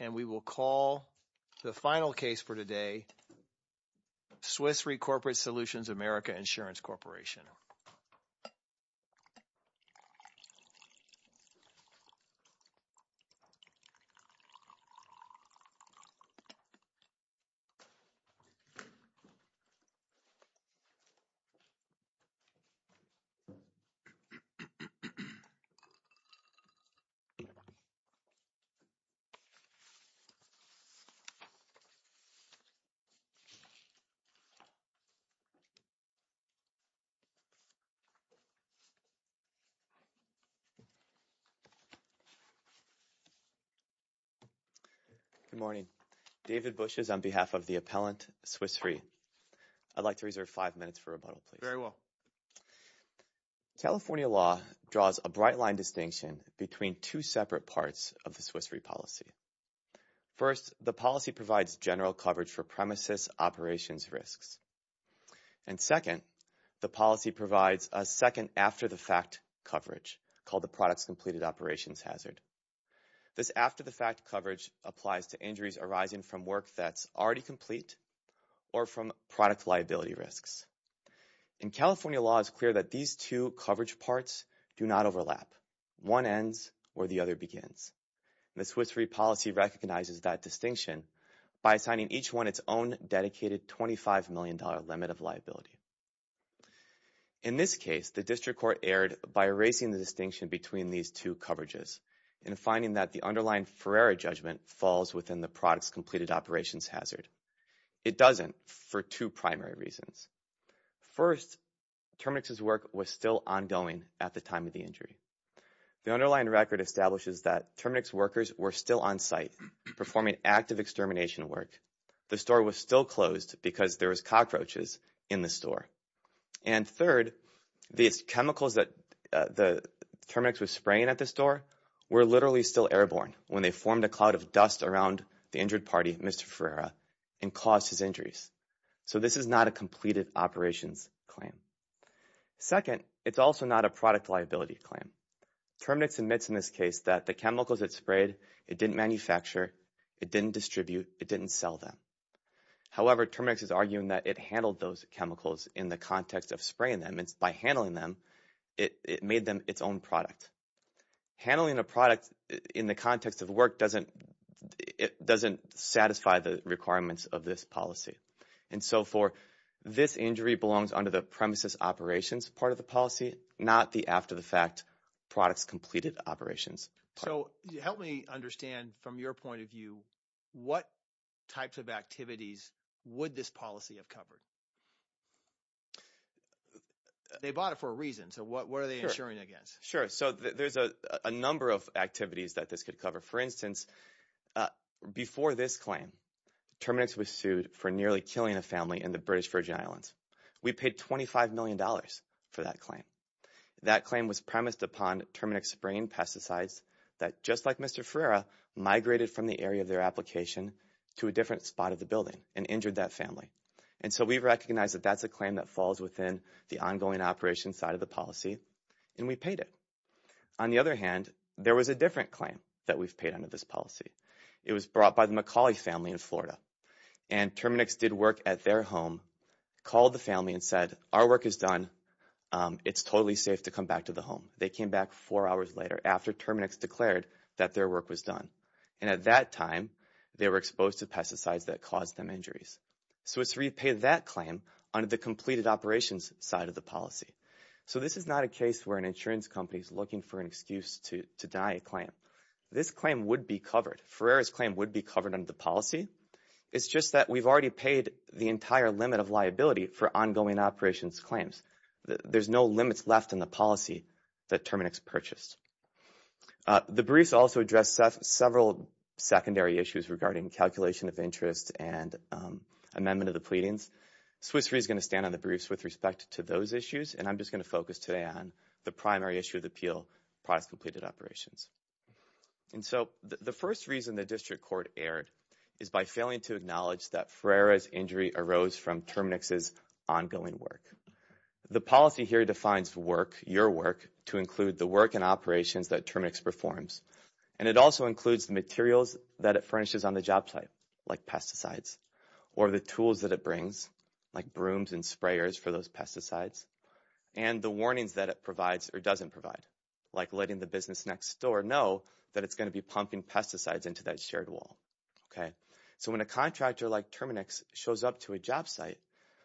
And we will call the final case for today Swiss Re Corporate Solutions America Insurance Corporation Good morning. David Bush is on behalf of the appellant, Swiss Re. I'd like to reserve five minutes for rebuttal, please. Very well. California law draws a bright-line distinction between two separate parts of the Swiss Re policy. First, the policy provides general coverage for premises operations risks. And second, the policy provides a second after-the-fact coverage called the products-completed operations hazard. This after-the-fact coverage applies to injuries arising from work that's already complete or from product liability risks. In California law, it's clear that these two coverage parts do not overlap. One ends where the other begins. The Swiss Re policy recognizes that distinction by assigning each one its own dedicated $25 million limit of liability. In this case, the district court erred by erasing the distinction between these two coverages and finding that the underlying Ferreira judgment falls within the products-completed operations hazard. It doesn't for two primary reasons. First, Terminix's work was still ongoing at the time of the injury. The underlying record establishes that Terminix workers were still on site performing active extermination work. The store was still closed because there was cockroaches in the store. And third, these chemicals that Terminix was spraying at the store were literally still airborne when they formed a cloud of dust around the injured party, Mr. Ferreira, and caused his injuries. So this is not a completed operations claim. Second, it's also not a product liability claim. Terminix admits in this case that the chemicals it sprayed, it didn't manufacture, it didn't distribute, it didn't sell them. However, Terminix is arguing that it handled those chemicals in the context of spraying them, and by handling them, it made them its own product. Handling a product in the context of work doesn't satisfy the requirements of this policy. And so for this injury belongs under the premises operations part of the policy, not the after-the-fact products-completed operations. So help me understand from your point of view, what types of activities would this policy have covered? They bought it for a reason, so what are they insuring against? Sure, so there's a number of activities that this could cover. For instance, before this claim, Terminix was sued for nearly killing a family in the British Virgin Islands. We paid $25 million for that claim. That claim was premised upon Terminix spraying pesticides that, just like Mr. Ferreira, migrated from the area of their application to a different spot of the building and injured that family. And so we recognize that that's a claim that falls within the ongoing operations side of the policy, and we paid it. On the other hand, there was a different claim that we've paid under this policy. It was brought by the Macaulay family in Florida. And Terminix did work at their home, called the family and said, our work is done, it's totally safe to come back to the home. They came back four hours later, after Terminix declared that their work was done. And at that time, they were exposed to pesticides that caused them injuries. So it's repaid that claim under the completed operations side of the policy. So this is not a case where an insurance company is looking for an excuse to deny a claim. This claim would be covered. Ferreira's claim would be covered under the policy. It's just that we've already paid the entire limit of liability for ongoing operations claims. There's no limits left in the policy that Terminix purchased. The briefs also address several secondary issues regarding calculation of interest and amendment of the pleadings. Swiss Re is going to stand on the briefs with respect to those issues, and I'm just going to focus today on the primary issue of the appeal, products completed operations. And so the first reason the district court erred is by failing to acknowledge that Ferreira's injury arose from Terminix's ongoing work. The policy here defines work, your work, to include the work and operations that Terminix performs. And it also includes the materials that it furnishes on the job site, like pesticides, or the tools that it brings, like brooms and sprayers for those pesticides, and the warnings that it provides or doesn't provide, like letting the business next door know that it's going to be pumping pesticides into that shared wall. So when a contractor like Terminix shows up to a job site,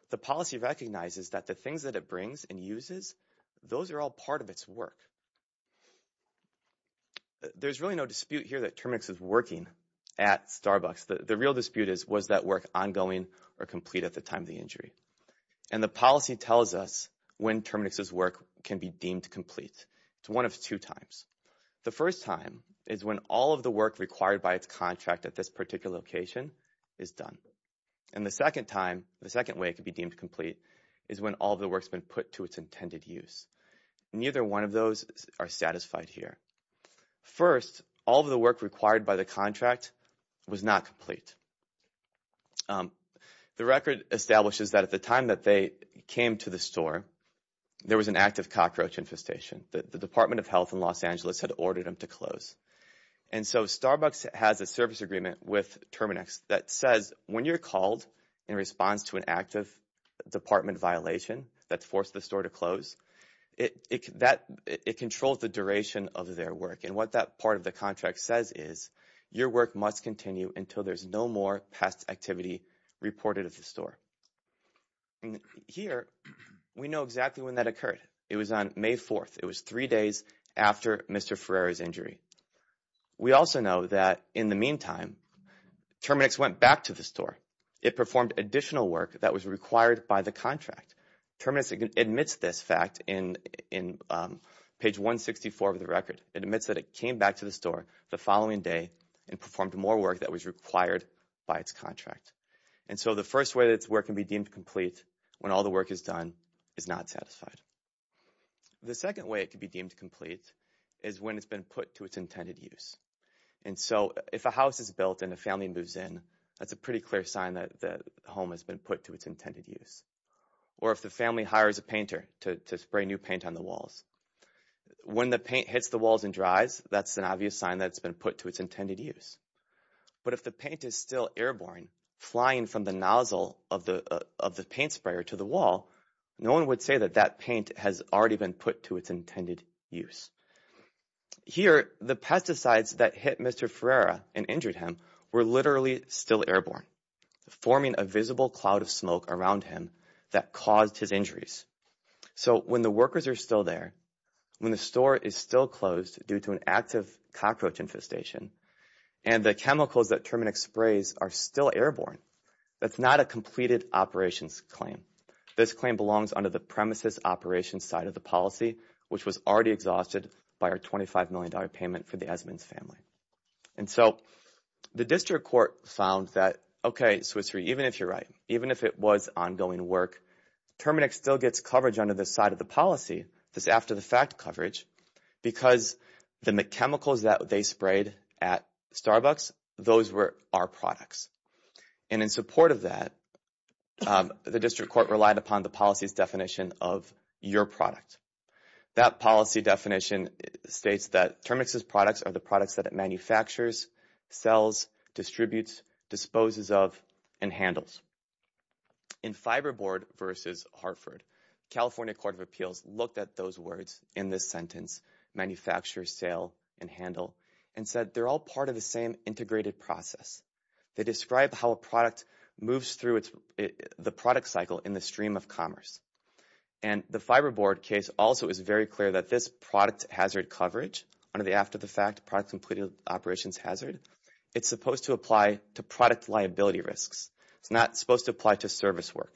the policy recognizes that the things that it brings and uses, those are all part of its work. There's really no dispute here that Terminix is working at Starbucks. The real dispute is, was that work ongoing or complete at the time of the injury? And the policy tells us when Terminix's work can be deemed complete. It's one of two times. The first time is when all of the work required by its contract at this particular location is done. And the second time, the second way it can be deemed complete, is when all of the work's been put to its intended use. Neither one of those are satisfied here. First, all of the work required by the contract was not complete. The record establishes that at the time that they came to the store, there was an active cockroach infestation. The Department of Health in Los Angeles had ordered them to close. And so Starbucks has a service agreement with Terminix that says, when you're called in response to an active department violation that forced the store to close, it controls the duration of their work. And what that part of the contract says is, your work must continue until there's no more pest activity reported at the store. Here, we know exactly when that occurred. It was on May 4th. It was three days after Mr. Ferreira's injury. We also know that in the meantime, Terminix went back to the store. It performed additional work that was required by the contract. Terminix admits this fact in page 164 of the record. It admits that it came back to the store the following day and performed more work that was required by its contract. And so the first way that its work can be deemed complete when all the work is done is not satisfied. The second way it can be deemed complete is when it's been put to its intended use. And so if a house is built and a family moves in, that's a pretty clear sign that the home has been put to its intended use. Or if the family hires a painter to spray new paint on the walls. When the paint hits the walls and dries, that's an obvious sign that it's been put to its intended use. But if the paint is still airborne, flying from the nozzle of the paint sprayer to the wall, no one would say that that paint has already been put to its intended use. Here, the pesticides that hit Mr. Ferreira and injured him were literally still airborne, forming a visible cloud of smoke around him that caused his injuries. So when the workers are still there, when the store is still closed due to an active cockroach infestation, and the chemicals that Terminix sprays are still airborne, that's not a completed operations claim. This claim belongs under the premises operations side of the policy, which was already exhausted by our $25 million payment for the Esmonds family. And so the district court found that, okay, Swiss Re, even if you're right, even if it was ongoing work, Terminix still gets coverage under this side of the policy, this after-the-fact coverage, because the chemicals that they sprayed at Starbucks, those were our products. And in support of that, the district court relied upon the policy's definition of your product. That policy definition states that Terminix's products are the products that it manufactures, sells, distributes, disposes of, and handles. In Fiberboard v. Hartford, California Court of Appeals looked at those words in this sentence, manufacture, sale, and handle, and said they're all part of the same integrated process. They describe how a product moves through the product cycle in the stream of commerce. And the Fiberboard case also is very clear that this product hazard coverage, under the after-the-fact product completing operations hazard, it's supposed to apply to product liability risks. It's not supposed to apply to service work,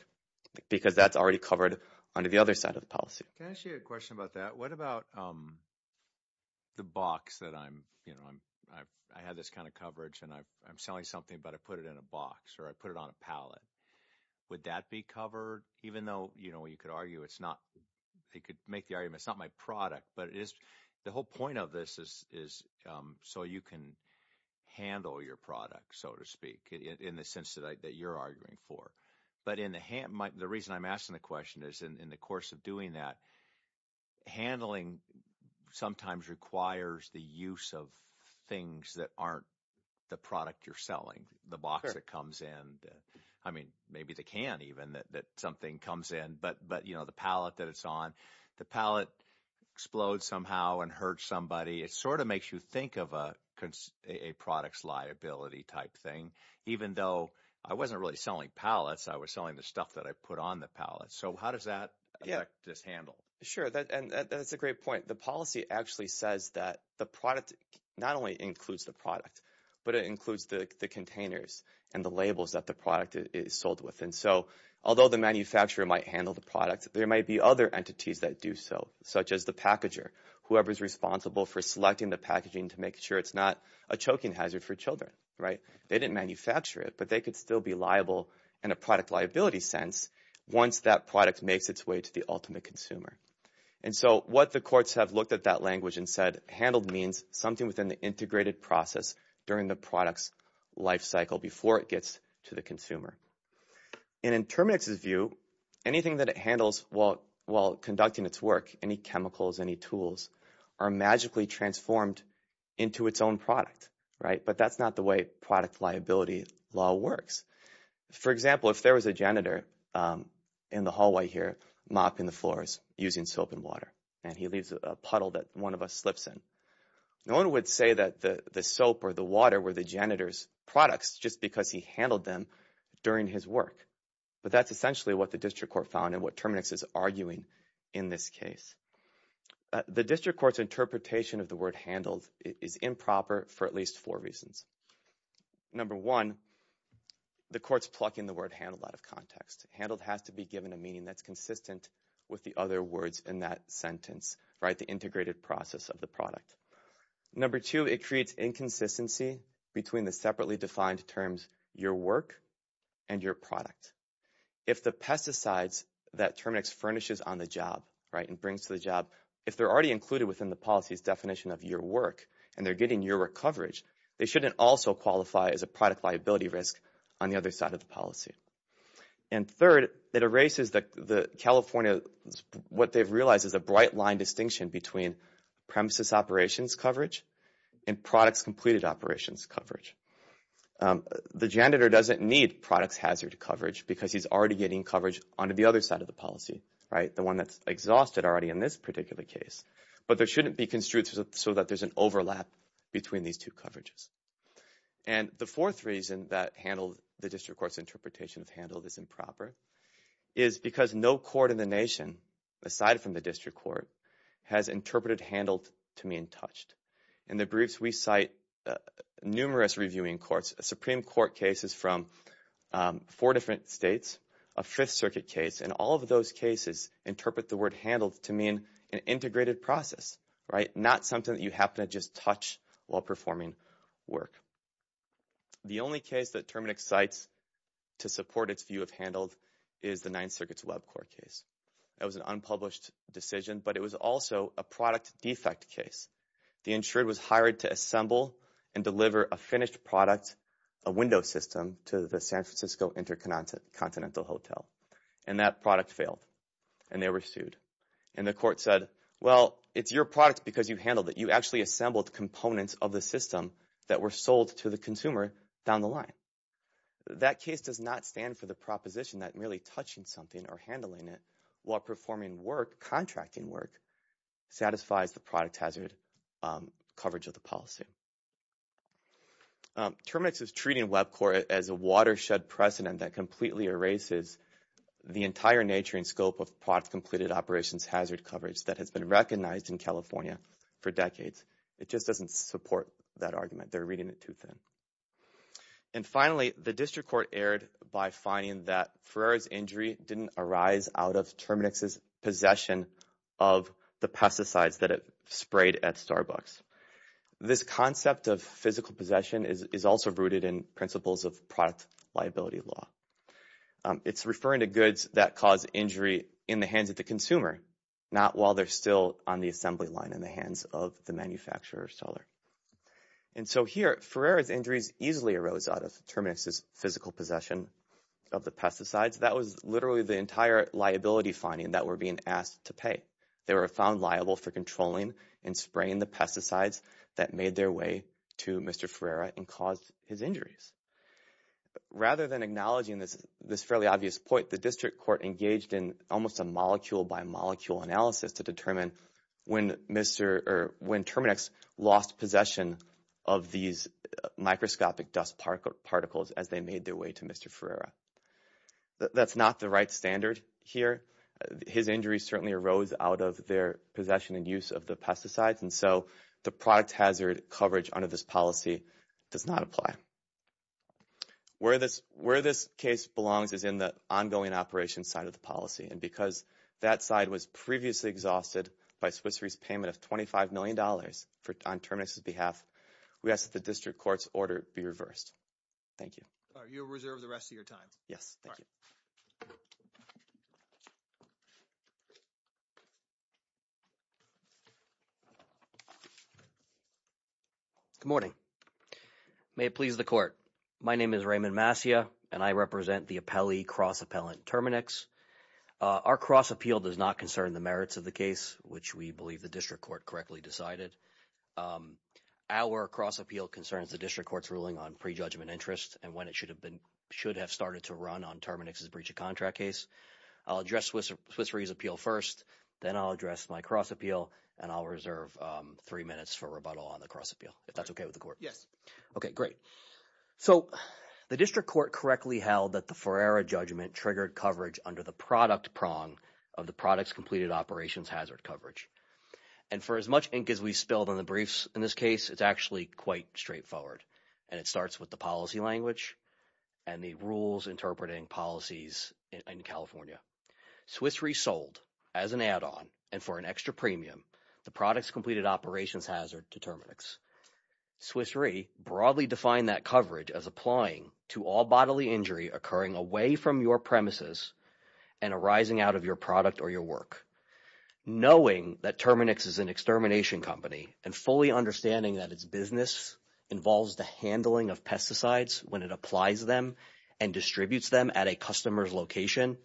because that's already covered under the other side of the policy. Can I ask you a question about that? What about the box that I'm, you know, I have this kind of coverage, and I'm selling something, but I put it in a box, or I put it on a pallet? Would that be covered? Even though, you know, you could argue it's not, you could make the argument it's not my product, but the whole point of this is so you can handle your product, so to speak, in the sense that you're arguing for. But the reason I'm asking the question is in the course of doing that, handling sometimes requires the use of things that aren't the product you're selling, the box that comes in. I mean, maybe they can, even, that something comes in. But, you know, the pallet that it's on, the pallet explodes somehow and hurts somebody. It sort of makes you think of a product's liability type thing, even though I wasn't really selling pallets. I was selling the stuff that I put on the pallet. So how does that affect this handle? Sure, and that's a great point. The policy actually says that the product not only includes the product, but it includes the containers and the labels that the product is sold with. And so although the manufacturer might handle the product, there might be other entities that do so, such as the packager, whoever is responsible for selecting the packaging to make sure it's not a choking hazard for children, right? They didn't manufacture it, but they could still be liable in a product liability sense once that product makes its way to the ultimate consumer. And so what the courts have looked at that language and said, handled means something within the integrated process during the product's life cycle before it gets to the consumer. And in Terminix's view, anything that it handles while conducting its work, any chemicals, any tools, are magically transformed into its own product, right? But that's not the way product liability law works. For example, if there was a janitor in the hallway here mopping the floors using soap and water, and he leaves a puddle that one of us slips in, no one would say that the soap or the water were the janitor's products just because he handled them during his work. But that's essentially what the district court found and what Terminix is arguing in this case. The district court's interpretation of the word handled is improper for at least four reasons. Number one, the court's plucking the word handled out of context. Handled has to be given a meaning that's consistent with the other words in that sentence, right, the integrated process of the product. Number two, it creates inconsistency between the separately defined terms your work and your product. If the pesticides that Terminix furnishes on the job, right, and brings to the job, if they're already included within the policy's definition of your work and they're getting your work coverage, they shouldn't also qualify as a product liability risk on the other side of the policy. And third, it erases the California, what they've realized is a bright line distinction between premises operations coverage and products completed operations coverage. The janitor doesn't need products hazard coverage because he's already getting coverage onto the other side of the policy, right, the one that's exhausted already in this particular case. But there shouldn't be construed so that there's an overlap between these two coverages. And the fourth reason that handled, the district court's interpretation of handled is improper, is because no court in the nation, aside from the district court, has interpreted handled to mean touched. In the briefs, we cite numerous reviewing courts, Supreme Court cases from four different states, a Fifth Circuit case, and all of those cases interpret the word handled to mean an integrated process, right, not something that you happen to just touch while performing work. The only case that Terminix cites to support its view of handled is the Ninth Circuit's web court case. That was an unpublished decision, but it was also a product defect case. The insured was hired to assemble and deliver a finished product, a window system, to the San Francisco Intercontinental Hotel, and that product failed, and they were sued. And the court said, well, it's your product because you handled it. You actually assembled components of the system that were sold to the consumer down the line. That case does not stand for the proposition that merely touching something or handling it while performing work, contracting work, satisfies the product hazard coverage of the policy. Terminix is treating web court as a watershed precedent that completely erases the entire nature and scope of product-completed operations hazard coverage that has been recognized in California for decades. It just doesn't support that argument. They're reading it too thin. And finally, the district court erred by finding that Ferreira's injury didn't arise out of Terminix's possession of the pesticides that it sprayed at Starbucks. This concept of physical possession is also rooted in principles of product liability law. It's referring to goods that cause injury in the hands of the consumer, not while they're still on the assembly line in the hands of the manufacturer or seller. And so here, Ferreira's injuries easily arose out of Terminix's physical possession of the pesticides. That was literally the entire liability finding that we're being asked to pay. They were found liable for controlling and spraying the pesticides that made their way to Mr. Ferreira and caused his injuries. Rather than acknowledging this fairly obvious point, the district court engaged in almost a molecule-by-molecule analysis to determine when Terminix lost possession of these microscopic dust particles as they made their way to Mr. Ferreira. That's not the right standard here. His injuries certainly arose out of their possession and use of the pesticides, and so the product hazard coverage under this policy does not apply. Where this case belongs is in the ongoing operations side of the policy, and because that side was previously exhausted by Swiss Re's payment of $25 million on Terminix's behalf, we ask that the district court's order be reversed. Thank you. You'll reserve the rest of your time. Yes. Thank you. Good morning. May it please the court. My name is Raymond Massia, and I represent the appellee cross-appellant Terminix. Our cross-appeal does not concern the merits of the case, which we believe the district court correctly decided. Our cross-appeal concerns the district court's ruling on prejudgment interest and when it should have started to run on Terminix's breach of contract case. I'll address Swiss Re's appeal first, then I'll address my cross-appeal, and I'll reserve three minutes for rebuttal on the cross-appeal, if that's okay with the court. Yes. Okay, great. So the district court correctly held that the Ferreira judgment triggered coverage under the product prong of the product's completed operations hazard coverage. And for as much ink as we spilled on the briefs in this case, it's actually quite straightforward, and it starts with the policy language and the rules interpreting policies in California. Swiss Re sold as an add-on and for an extra premium the product's completed operations hazard to Terminix. Swiss Re broadly defined that coverage as applying to all bodily injury occurring away from your premises and arising out of your product or your work. Knowing that Terminix is an extermination company and fully understanding that its business involves the handling of pesticides when it applies them and distributes them at a customer's location,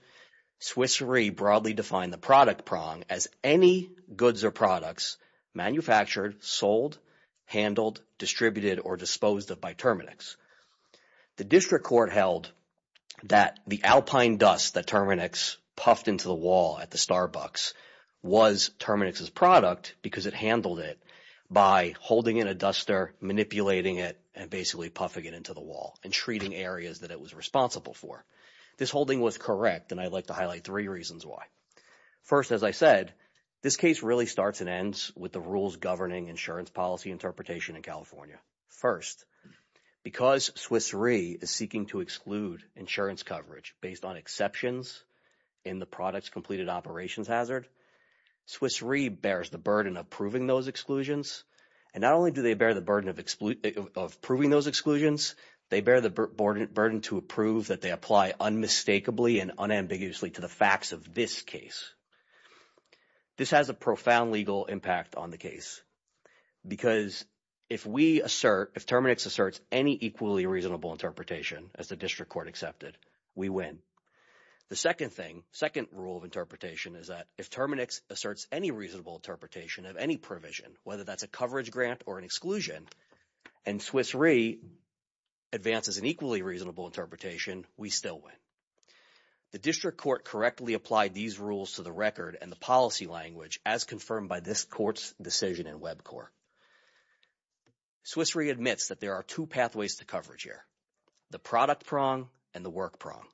Swiss Re broadly defined the product prong as any goods or products manufactured, sold, handled, distributed, or disposed of by Terminix. The district court held that the alpine dust that Terminix puffed into the wall at the Starbucks was Terminix's product because it handled it by holding in a duster, manipulating it, and basically puffing it into the wall and treating areas that it was responsible for. This holding was correct, and I'd like to highlight three reasons why. First, as I said, this case really starts and ends with the rules governing insurance policy interpretation in California. First, because Swiss Re is seeking to exclude insurance coverage based on exceptions in the product's completed operations hazard, Swiss Re bears the burden of proving those exclusions, and not only do they bear the burden of proving those exclusions, they bear the burden to approve that they apply unmistakably and unambiguously to the facts of this case. This has a profound legal impact on the case because if we assert – if Terminix asserts any equally reasonable interpretation, as the district court accepted, we win. The second thing, second rule of interpretation is that if Terminix asserts any reasonable interpretation of any provision, whether that's a coverage grant or an exclusion, and Swiss Re advances an equally reasonable interpretation, we still win. The district court correctly applied these rules to the record and the policy language as confirmed by this court's decision in WebCorp. Swiss Re admits that there are two pathways to coverage here, the product prong and the work prong.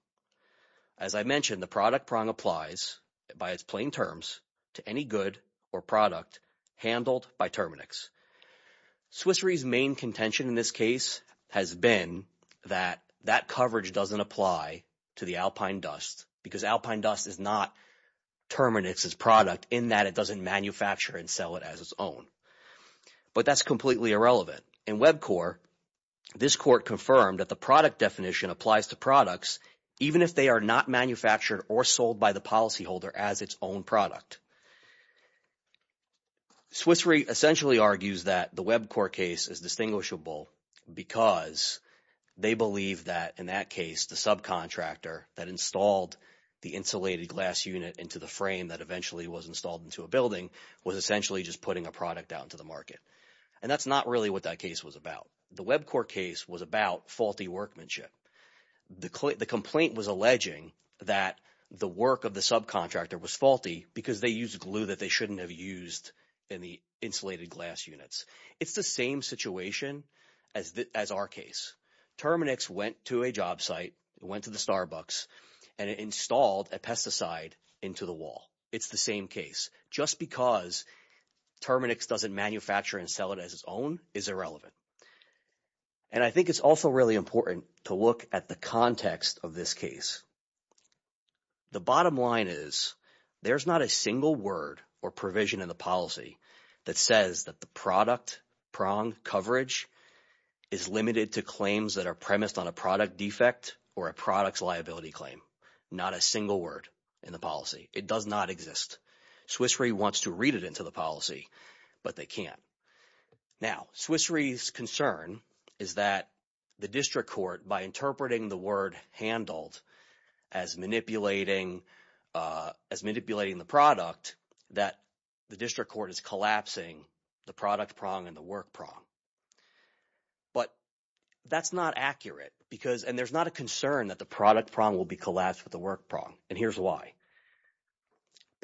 As I mentioned, the product prong applies by its plain terms to any good or product handled by Terminix. Swiss Re's main contention in this case has been that that coverage doesn't apply to the alpine dust because alpine dust is not Terminix's product in that it doesn't manufacture and sell it as its own. But that's completely irrelevant. In WebCorp, this court confirmed that the product definition applies to products even if they are not manufactured or sold by the policyholder as its own product. Swiss Re essentially argues that the WebCorp case is distinguishable because they believe that, in that case, the subcontractor that installed the insulated glass unit into the frame that eventually was installed into a building was essentially just putting a product out into the market. And that's not really what that case was about. The WebCorp case was about faulty workmanship. The complaint was alleging that the work of the subcontractor was faulty because they used glue that they shouldn't have used in the insulated glass units. It's the same situation as our case. Terminix went to a job site, went to the Starbucks, and it installed a pesticide into the wall. It's the same case. Just because Terminix doesn't manufacture and sell it as its own is irrelevant. And I think it's also really important to look at the context of this case. The bottom line is there's not a single word or provision in the policy that says that the product prong coverage is limited to claims that are premised on a product defect or a product's liability claim, not a single word in the policy. It does not exist. Swiss Re wants to read it into the policy, but they can't. Now, Swiss Re's concern is that the district court, by interpreting the word handled as manipulating the product, that the district court is collapsing the product prong and the work prong. But that's not accurate because – and there's not a concern that the product prong will be collapsed with the work prong, and here's why.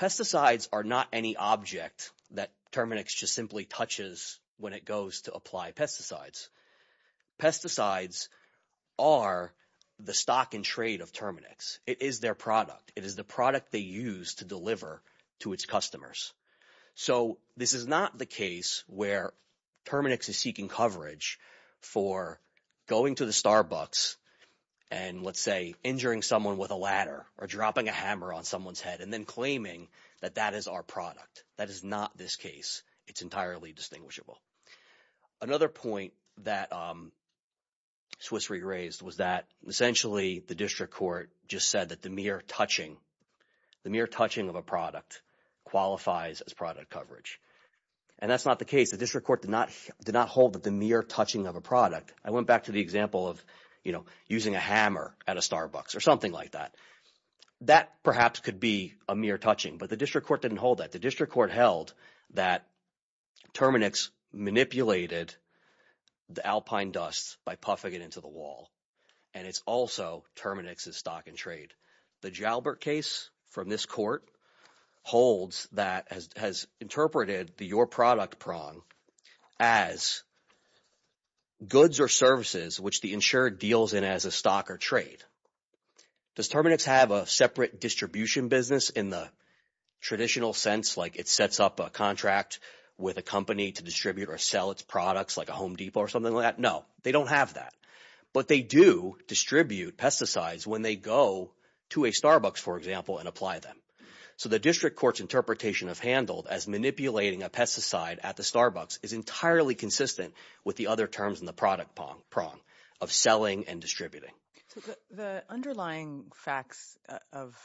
Pesticides are not any object that Terminix just simply touches when it goes to apply pesticides. Pesticides are the stock and trade of Terminix. It is their product. It is the product they use to deliver to its customers. So this is not the case where Terminix is seeking coverage for going to the Starbucks and, let's say, injuring someone with a ladder or dropping a hammer on someone's head and then claiming that that is our product. That is not this case. It's entirely distinguishable. Another point that Swiss Re raised was that essentially the district court just said that the mere touching, the mere touching of a product qualifies as product coverage. And that's not the case. The district court did not hold that the mere touching of a product – I went back to the example of using a hammer at a Starbucks or something like that. That perhaps could be a mere touching, but the district court didn't hold that. The district court held that Terminix manipulated the alpine dust by puffing it into the wall, and it's also Terminix's stock and trade. The Jalbert case from this court holds that – has interpreted the your product prong as goods or services which the insured deals in as a stock or trade. Does Terminix have a separate distribution business in the traditional sense like it sets up a contract with a company to distribute or sell its products like a Home Depot or something like that? No, they don't have that. But they do distribute pesticides when they go to a Starbucks, for example, and apply them. So the district court's interpretation of handled as manipulating a pesticide at the Starbucks is entirely consistent with the other terms in the product prong of selling and distributing. So the underlying facts of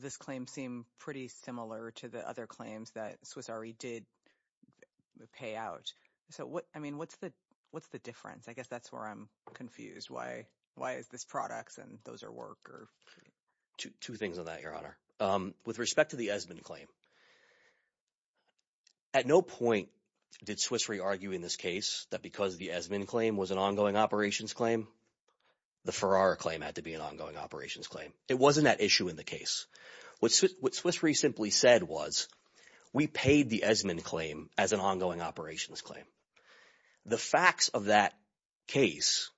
this claim seem pretty similar to the other claims that Swiss Re did pay out. So, I mean, what's the difference? I guess that's where I'm confused. Why is this products and those are work or – Two things on that, Your Honor. With respect to the Esmond claim, at no point did Swiss Re argue in this case that because the Esmond claim was an ongoing operations claim, the Ferrara claim had to be an ongoing operations claim. It wasn't at issue in the case. What Swiss Re simply said was we paid the Esmond claim as an ongoing operations claim. The facts of that case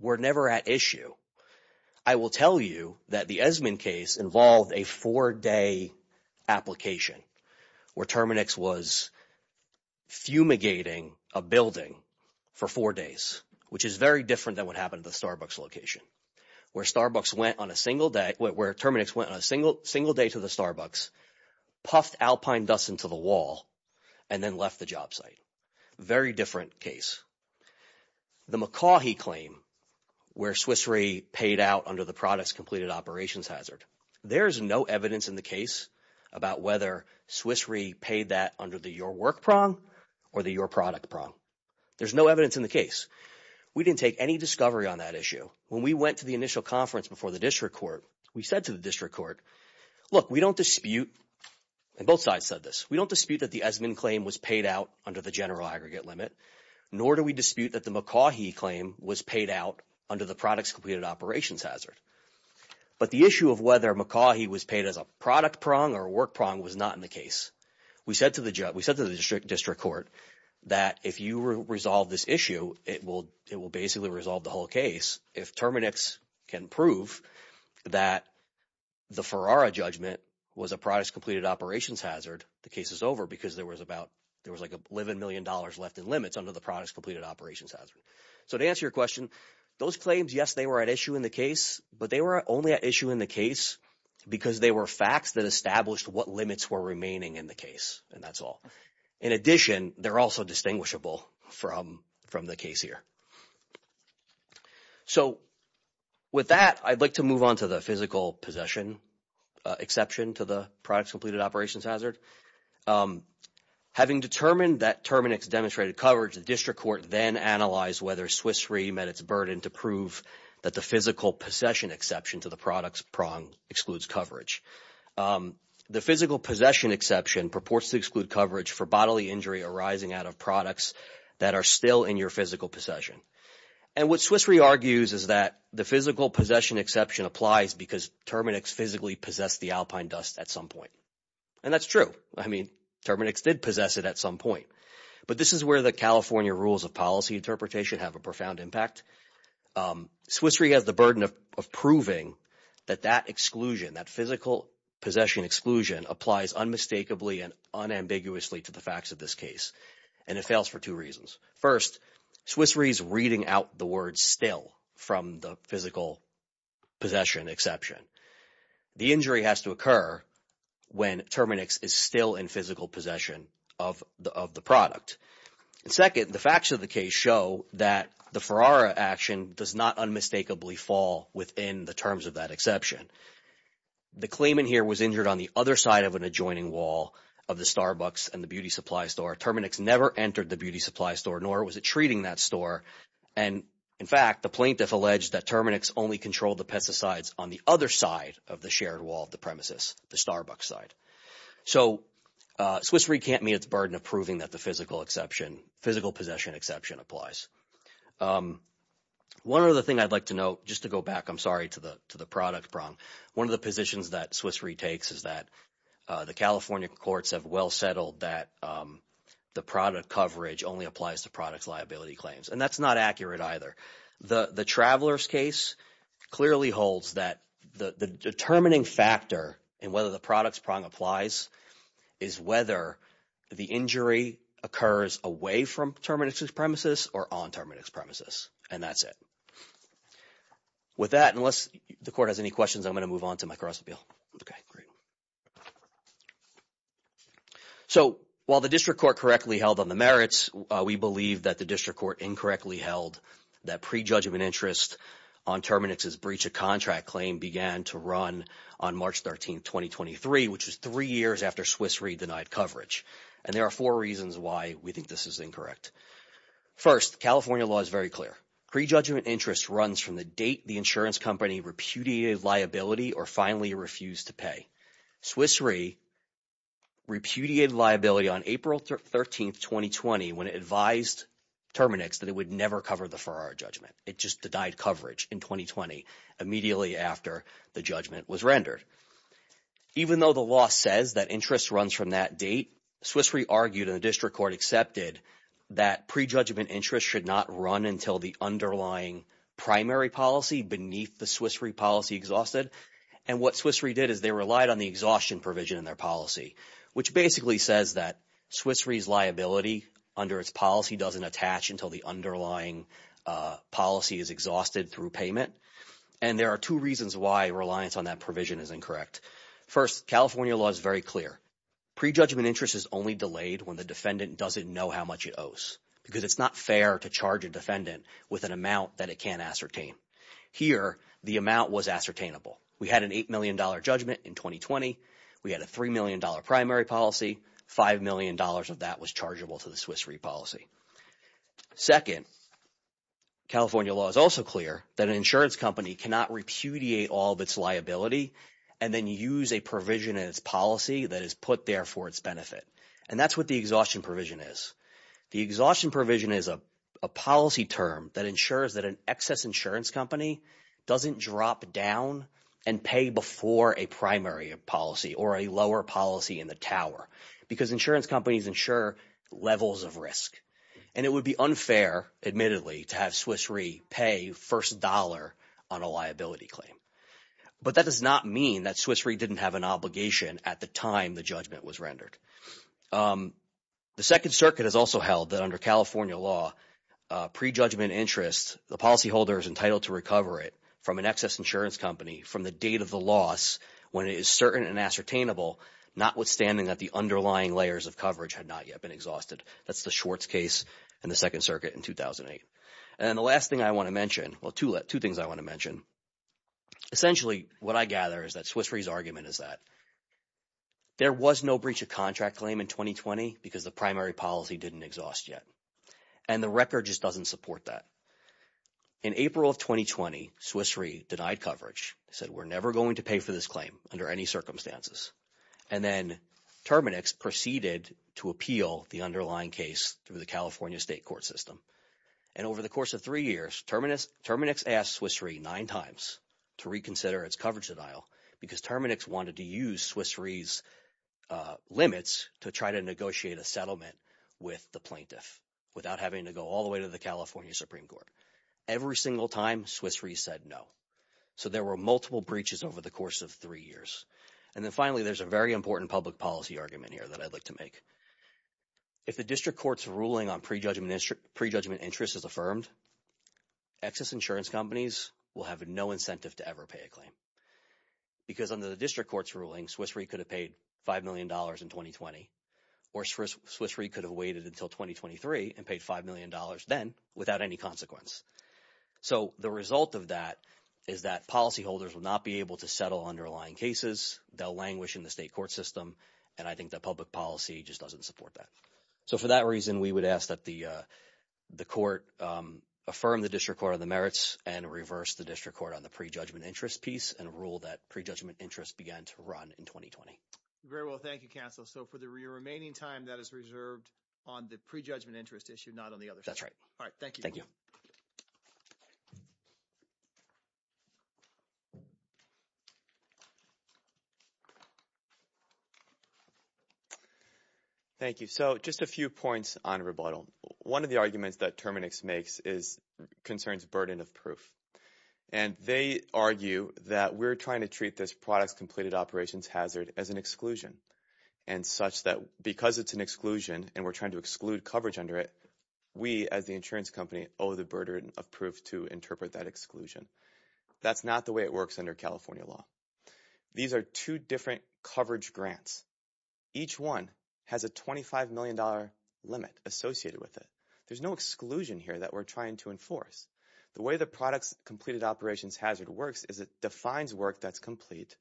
were never at issue. I will tell you that the Esmond case involved a four-day application where Terminix was fumigating a building for four days, which is very different than what happened at the Starbucks location where Starbucks went on a single – where Terminix went on a single day to the Starbucks, puffed alpine dust into the wall, and then left the job site. Very different case. The McCaughey claim where Swiss Re paid out under the products completed operations hazard, there is no evidence in the case about whether Swiss Re paid that under the your work prong or the your product prong. There's no evidence in the case. We didn't take any discovery on that issue. When we went to the initial conference before the district court, we said to the district court, look, we don't dispute – and both sides said this – we don't dispute that the Esmond claim was paid out under the general aggregate limit, nor do we dispute that the McCaughey claim was paid out under the products completed operations hazard. But the issue of whether McCaughey was paid as a product prong or a work prong was not in the case. We said to the district court that if you resolve this issue, it will basically resolve the whole case. If Terminix can prove that the Ferrara judgment was a products completed operations hazard, the case is over because there was about – there was like $11 million left in limits under the products completed operations hazard. So to answer your question, those claims, yes, they were at issue in the case, but they were only at issue in the case because they were facts that established what limits were remaining in the case, and that's all. In addition, they're also distinguishable from the case here. So with that, I'd like to move on to the physical possession exception to the products completed operations hazard. Having determined that Terminix demonstrated coverage, the district court then analyzed whether Swiss Re met its burden to prove that the physical possession exception to the products prong excludes coverage. The physical possession exception purports to exclude coverage for bodily injury arising out of products that are still in your physical possession. And what Swiss Re argues is that the physical possession exception applies because Terminix physically possessed the alpine dust at some point. And that's true. I mean Terminix did possess it at some point. But this is where the California rules of policy interpretation have a profound impact. Swiss Re has the burden of proving that that exclusion, that physical possession exclusion applies unmistakably and unambiguously to the facts of this case, and it fails for two reasons. First, Swiss Re is reading out the words still from the physical possession exception. The injury has to occur when Terminix is still in physical possession of the product. And second, the facts of the case show that the Ferrara action does not unmistakably fall within the terms of that exception. The claimant here was injured on the other side of an adjoining wall of the Starbucks and the beauty supply store. Terminix never entered the beauty supply store, nor was it treating that store. And, in fact, the plaintiff alleged that Terminix only controlled the pesticides on the other side of the shared wall of the premises, the Starbucks side. So Swiss Re can't meet its burden of proving that the physical exception – physical possession exception applies. One other thing I'd like to note, just to go back – I'm sorry to the product prong. One of the positions that Swiss Re takes is that the California courts have well settled that the product coverage only applies to products liability claims, and that's not accurate either. The Traveler's case clearly holds that the determining factor in whether the products prong applies is whether the injury occurs away from Terminix's premises or on Terminix's premises, and that's it. With that, unless the court has any questions, I'm going to move on to my cross-appeal. Okay, great. So while the district court correctly held on the merits, we believe that the district court incorrectly held that prejudgment interest on Terminix's breach of contract claim began to run on March 13, 2023, which was three years after Swiss Re denied coverage. And there are four reasons why we think this is incorrect. First, California law is very clear. Prejudgment interest runs from the date the insurance company repudiated liability or finally refused to pay. Swiss Re repudiated liability on April 13, 2020, when it advised Terminix that it would never cover the Farrar judgment. It just denied coverage in 2020 immediately after the judgment was rendered. Even though the law says that interest runs from that date, Swiss Re argued and the district court accepted that prejudgment interest should not run until the underlying primary policy beneath the Swiss Re policy exhausted. And what Swiss Re did is they relied on the exhaustion provision in their policy, which basically says that Swiss Re's liability under its policy doesn't attach until the underlying policy is exhausted through payment. And there are two reasons why reliance on that provision is incorrect. First, California law is very clear. Prejudgment interest is only delayed when the defendant doesn't know how much it owes because it's not fair to charge a defendant with an amount that it can't ascertain. Here, the amount was ascertainable. We had an $8 million judgment in 2020. We had a $3 million primary policy. $5 million of that was chargeable to the Swiss Re policy. Second, California law is also clear that an insurance company cannot repudiate all of its liability and then use a provision in its policy that is put there for its benefit. And that's what the exhaustion provision is. The exhaustion provision is a policy term that ensures that an excess insurance company doesn't drop down and pay before a primary policy or a lower policy in the tower because insurance companies insure levels of risk. And it would be unfair, admittedly, to have Swiss Re pay first dollar on a liability claim. But that does not mean that Swiss Re didn't have an obligation at the time the judgment was rendered. The Second Circuit has also held that under California law, prejudgment interest, the policyholder is entitled to recover it from an excess insurance company from the date of the loss when it is certain and ascertainable, notwithstanding that the underlying layers of coverage had not yet been exhausted. That's the Schwartz case in the Second Circuit in 2008. And the last thing I want to mention – well, two things I want to mention. Essentially, what I gather is that Swiss Re's argument is that there was no breach of contract claim in 2020 because the primary policy didn't exhaust yet. And the record just doesn't support that. In April of 2020, Swiss Re denied coverage. It said we're never going to pay for this claim under any circumstances. And then Terminix proceeded to appeal the underlying case through the California state court system. And over the course of three years, Terminix asked Swiss Re nine times to reconsider its coverage denial because Terminix wanted to use Swiss Re's limits to try to negotiate a settlement with the plaintiff without having to go all the way to the California Supreme Court. Every single time, Swiss Re said no. So there were multiple breaches over the course of three years. And then finally, there's a very important public policy argument here that I'd like to make. If the district court's ruling on prejudgment interest is affirmed, excess insurance companies will have no incentive to ever pay a claim because under the district court's ruling, Swiss Re could have paid $5 million in 2020. Or Swiss Re could have waited until 2023 and paid $5 million then without any consequence. So the result of that is that policyholders will not be able to settle underlying cases. They'll languish in the state court system. And I think the public policy just doesn't support that. So for that reason, we would ask that the court affirm the district court on the merits and reverse the district court on the prejudgment interest piece and rule that prejudgment interest began to run in 2020. Very well. Thank you, counsel. So for the remaining time, that is reserved on the prejudgment interest issue, not on the other side. That's right. All right. Thank you. So just a few points on rebuttal. One of the arguments that Terminix makes concerns burden of proof. And they argue that we're trying to treat this product's completed operations hazard as an exclusion and such that because it's an exclusion and we're trying to exclude coverage under it, we as the insurance company owe the burden of proof to interpret that exclusion. That's not the way it works under California law. These are two different coverage grants. Each one has a $25 million limit associated with it. There's no exclusion here that we're trying to enforce. The way the product's completed operations hazard works is it defines work that's complete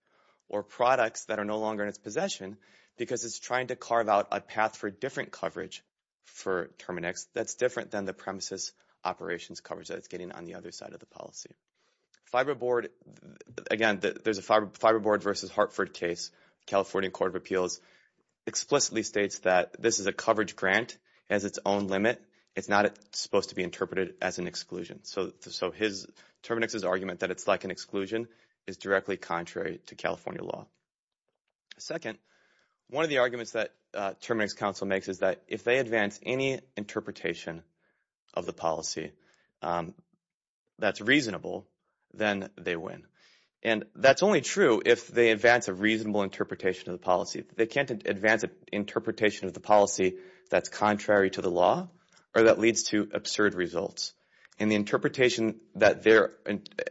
or products that are no longer in its possession because it's trying to carve out a path for different coverage for Terminix that's different than the premises operations coverage that it's getting on the other side of the policy. Fiberboard, again, there's a Fiberboard versus Hartford case, California Court of Appeals, explicitly states that this is a coverage grant. It has its own limit. It's not supposed to be interpreted as an exclusion. So Terminix's argument that it's like an exclusion is directly contrary to California law. Second, one of the arguments that Terminix counsel makes is that if they advance any interpretation of the policy that's reasonable, then they win. And that's only true if they advance a reasonable interpretation of the policy. They can't advance an interpretation of the policy that's contrary to the law or that leads to absurd results. And the interpretation that they're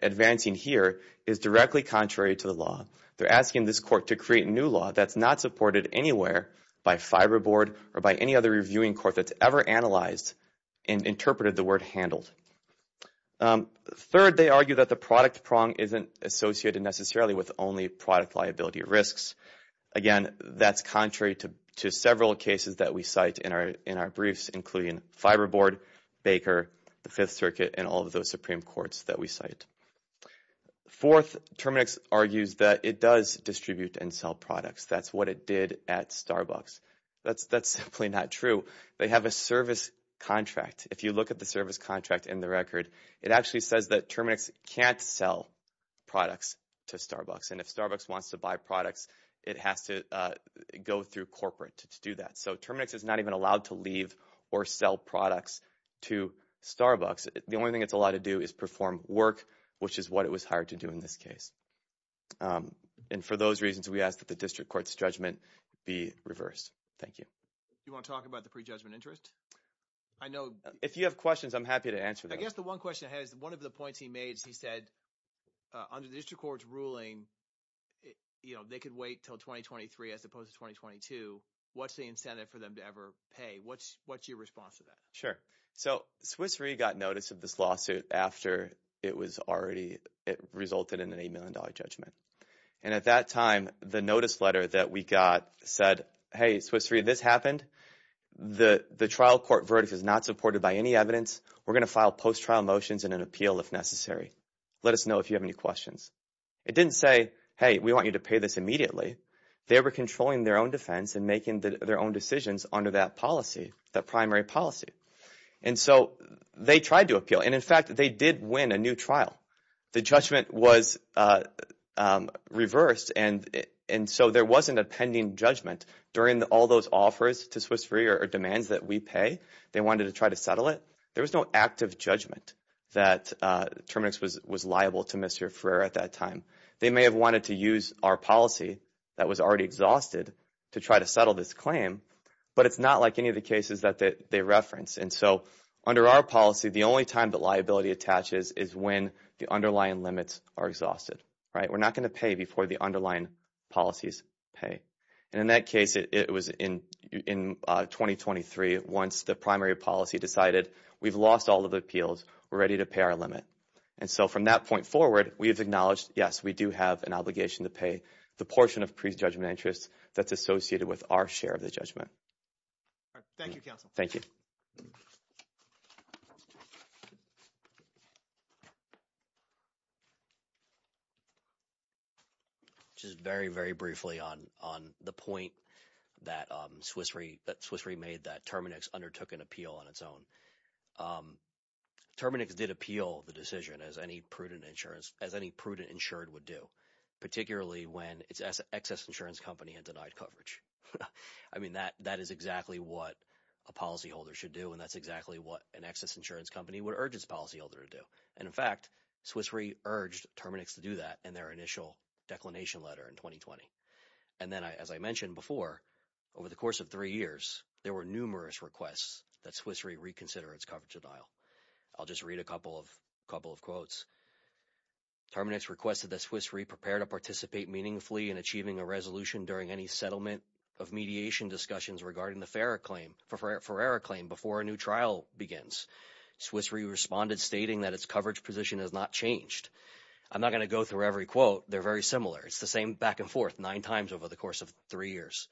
advancing here is directly contrary to the law. They're asking this court to create a new law that's not supported anywhere by Fiberboard or by any other reviewing court that's ever analyzed and interpreted the word handled. Third, they argue that the product prong isn't associated necessarily with only product liability risks. Again, that's contrary to several cases that we cite in our briefs, including Fiberboard, Baker, the Fifth Circuit, and all of those Supreme Courts that we cite. Fourth, Terminix argues that it does distribute and sell products. That's what it did at Starbucks. That's simply not true. They have a service contract. If you look at the service contract in the record, it actually says that Terminix can't sell products to Starbucks. And if Starbucks wants to buy products, it has to go through corporate to do that. So Terminix is not even allowed to leave or sell products to Starbucks. The only thing it's allowed to do is perform work, which is what it was hired to do in this case. And for those reasons, we ask that the district court's judgment be reversed. Thank you. You want to talk about the prejudgment interest? I know – If you have questions, I'm happy to answer them. I guess the one question I had is one of the points he made is he said under the district court's ruling, they could wait until 2023 as opposed to 2022. What's the incentive for them to ever pay? What's your response to that? Sure. So Swiss Re got notice of this lawsuit after it was already – it resulted in an $8 million judgment. And at that time, the notice letter that we got said, hey, Swiss Re, this happened. The trial court verdict is not supported by any evidence. We're going to file post-trial motions and an appeal if necessary. Let us know if you have any questions. It didn't say, hey, we want you to pay this immediately. They were controlling their own defense and making their own decisions under that policy, that primary policy. And so they tried to appeal. And in fact, they did win a new trial. The judgment was reversed. And so there wasn't a pending judgment during all those offers to Swiss Re or demands that we pay. They wanted to try to settle it. There was no active judgment that Terminix was liable to Mr. Ferreira at that time. They may have wanted to use our policy that was already exhausted to try to settle this claim, but it's not like any of the cases that they reference. And so under our policy, the only time that liability attaches is when the underlying limits are exhausted. We're not going to pay before the underlying policies pay. And in that case, it was in 2023 once the primary policy decided we've lost all of the appeals. We're ready to pay our limit. And so from that point forward, we have acknowledged, yes, we do have an obligation to pay the portion of pre-judgment interest that's associated with our share of the judgment. Thank you, counsel. Thank you. Just very, very briefly on the point that Swiss Re made that Terminix undertook an appeal on its own. Terminix did appeal the decision as any prudent insurance – as any prudent insured would do, particularly when its excess insurance company had denied coverage. I mean that is exactly what a policyholder should do, and that's exactly what an excess insurance company would urge its policyholder to do. And in fact, Swiss Re urged Terminix to do that in their initial declination letter in 2020. And then as I mentioned before, over the course of three years, there were numerous requests that Swiss Re reconsider its coverage denial. I'll just read a couple of quotes. Terminix requested that Swiss Re prepare to participate meaningfully in achieving a resolution during any settlement of mediation discussions regarding the Ferrara claim before a new trial begins. Swiss Re responded stating that its coverage position has not changed. I'm not going to go through every quote. They're very similar. It's the same back and forth nine times over the course of three years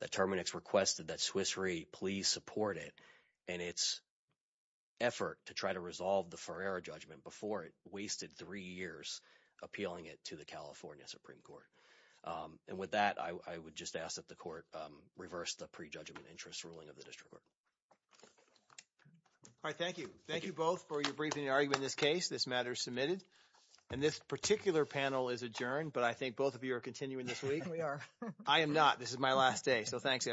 that Terminix requested that Swiss Re please support it in its effort to try to resolve the Ferrara judgment before it wasted three years appealing it to the California Supreme Court. And with that, I would just ask that the court reverse the prejudgment interest ruling of the district court. All right, thank you. Thank you both for your briefing and argument in this case. This matter is submitted. And this particular panel is adjourned. But I think both of you are continuing this week. We are. I am not. This is my last day. So thanks, everyone.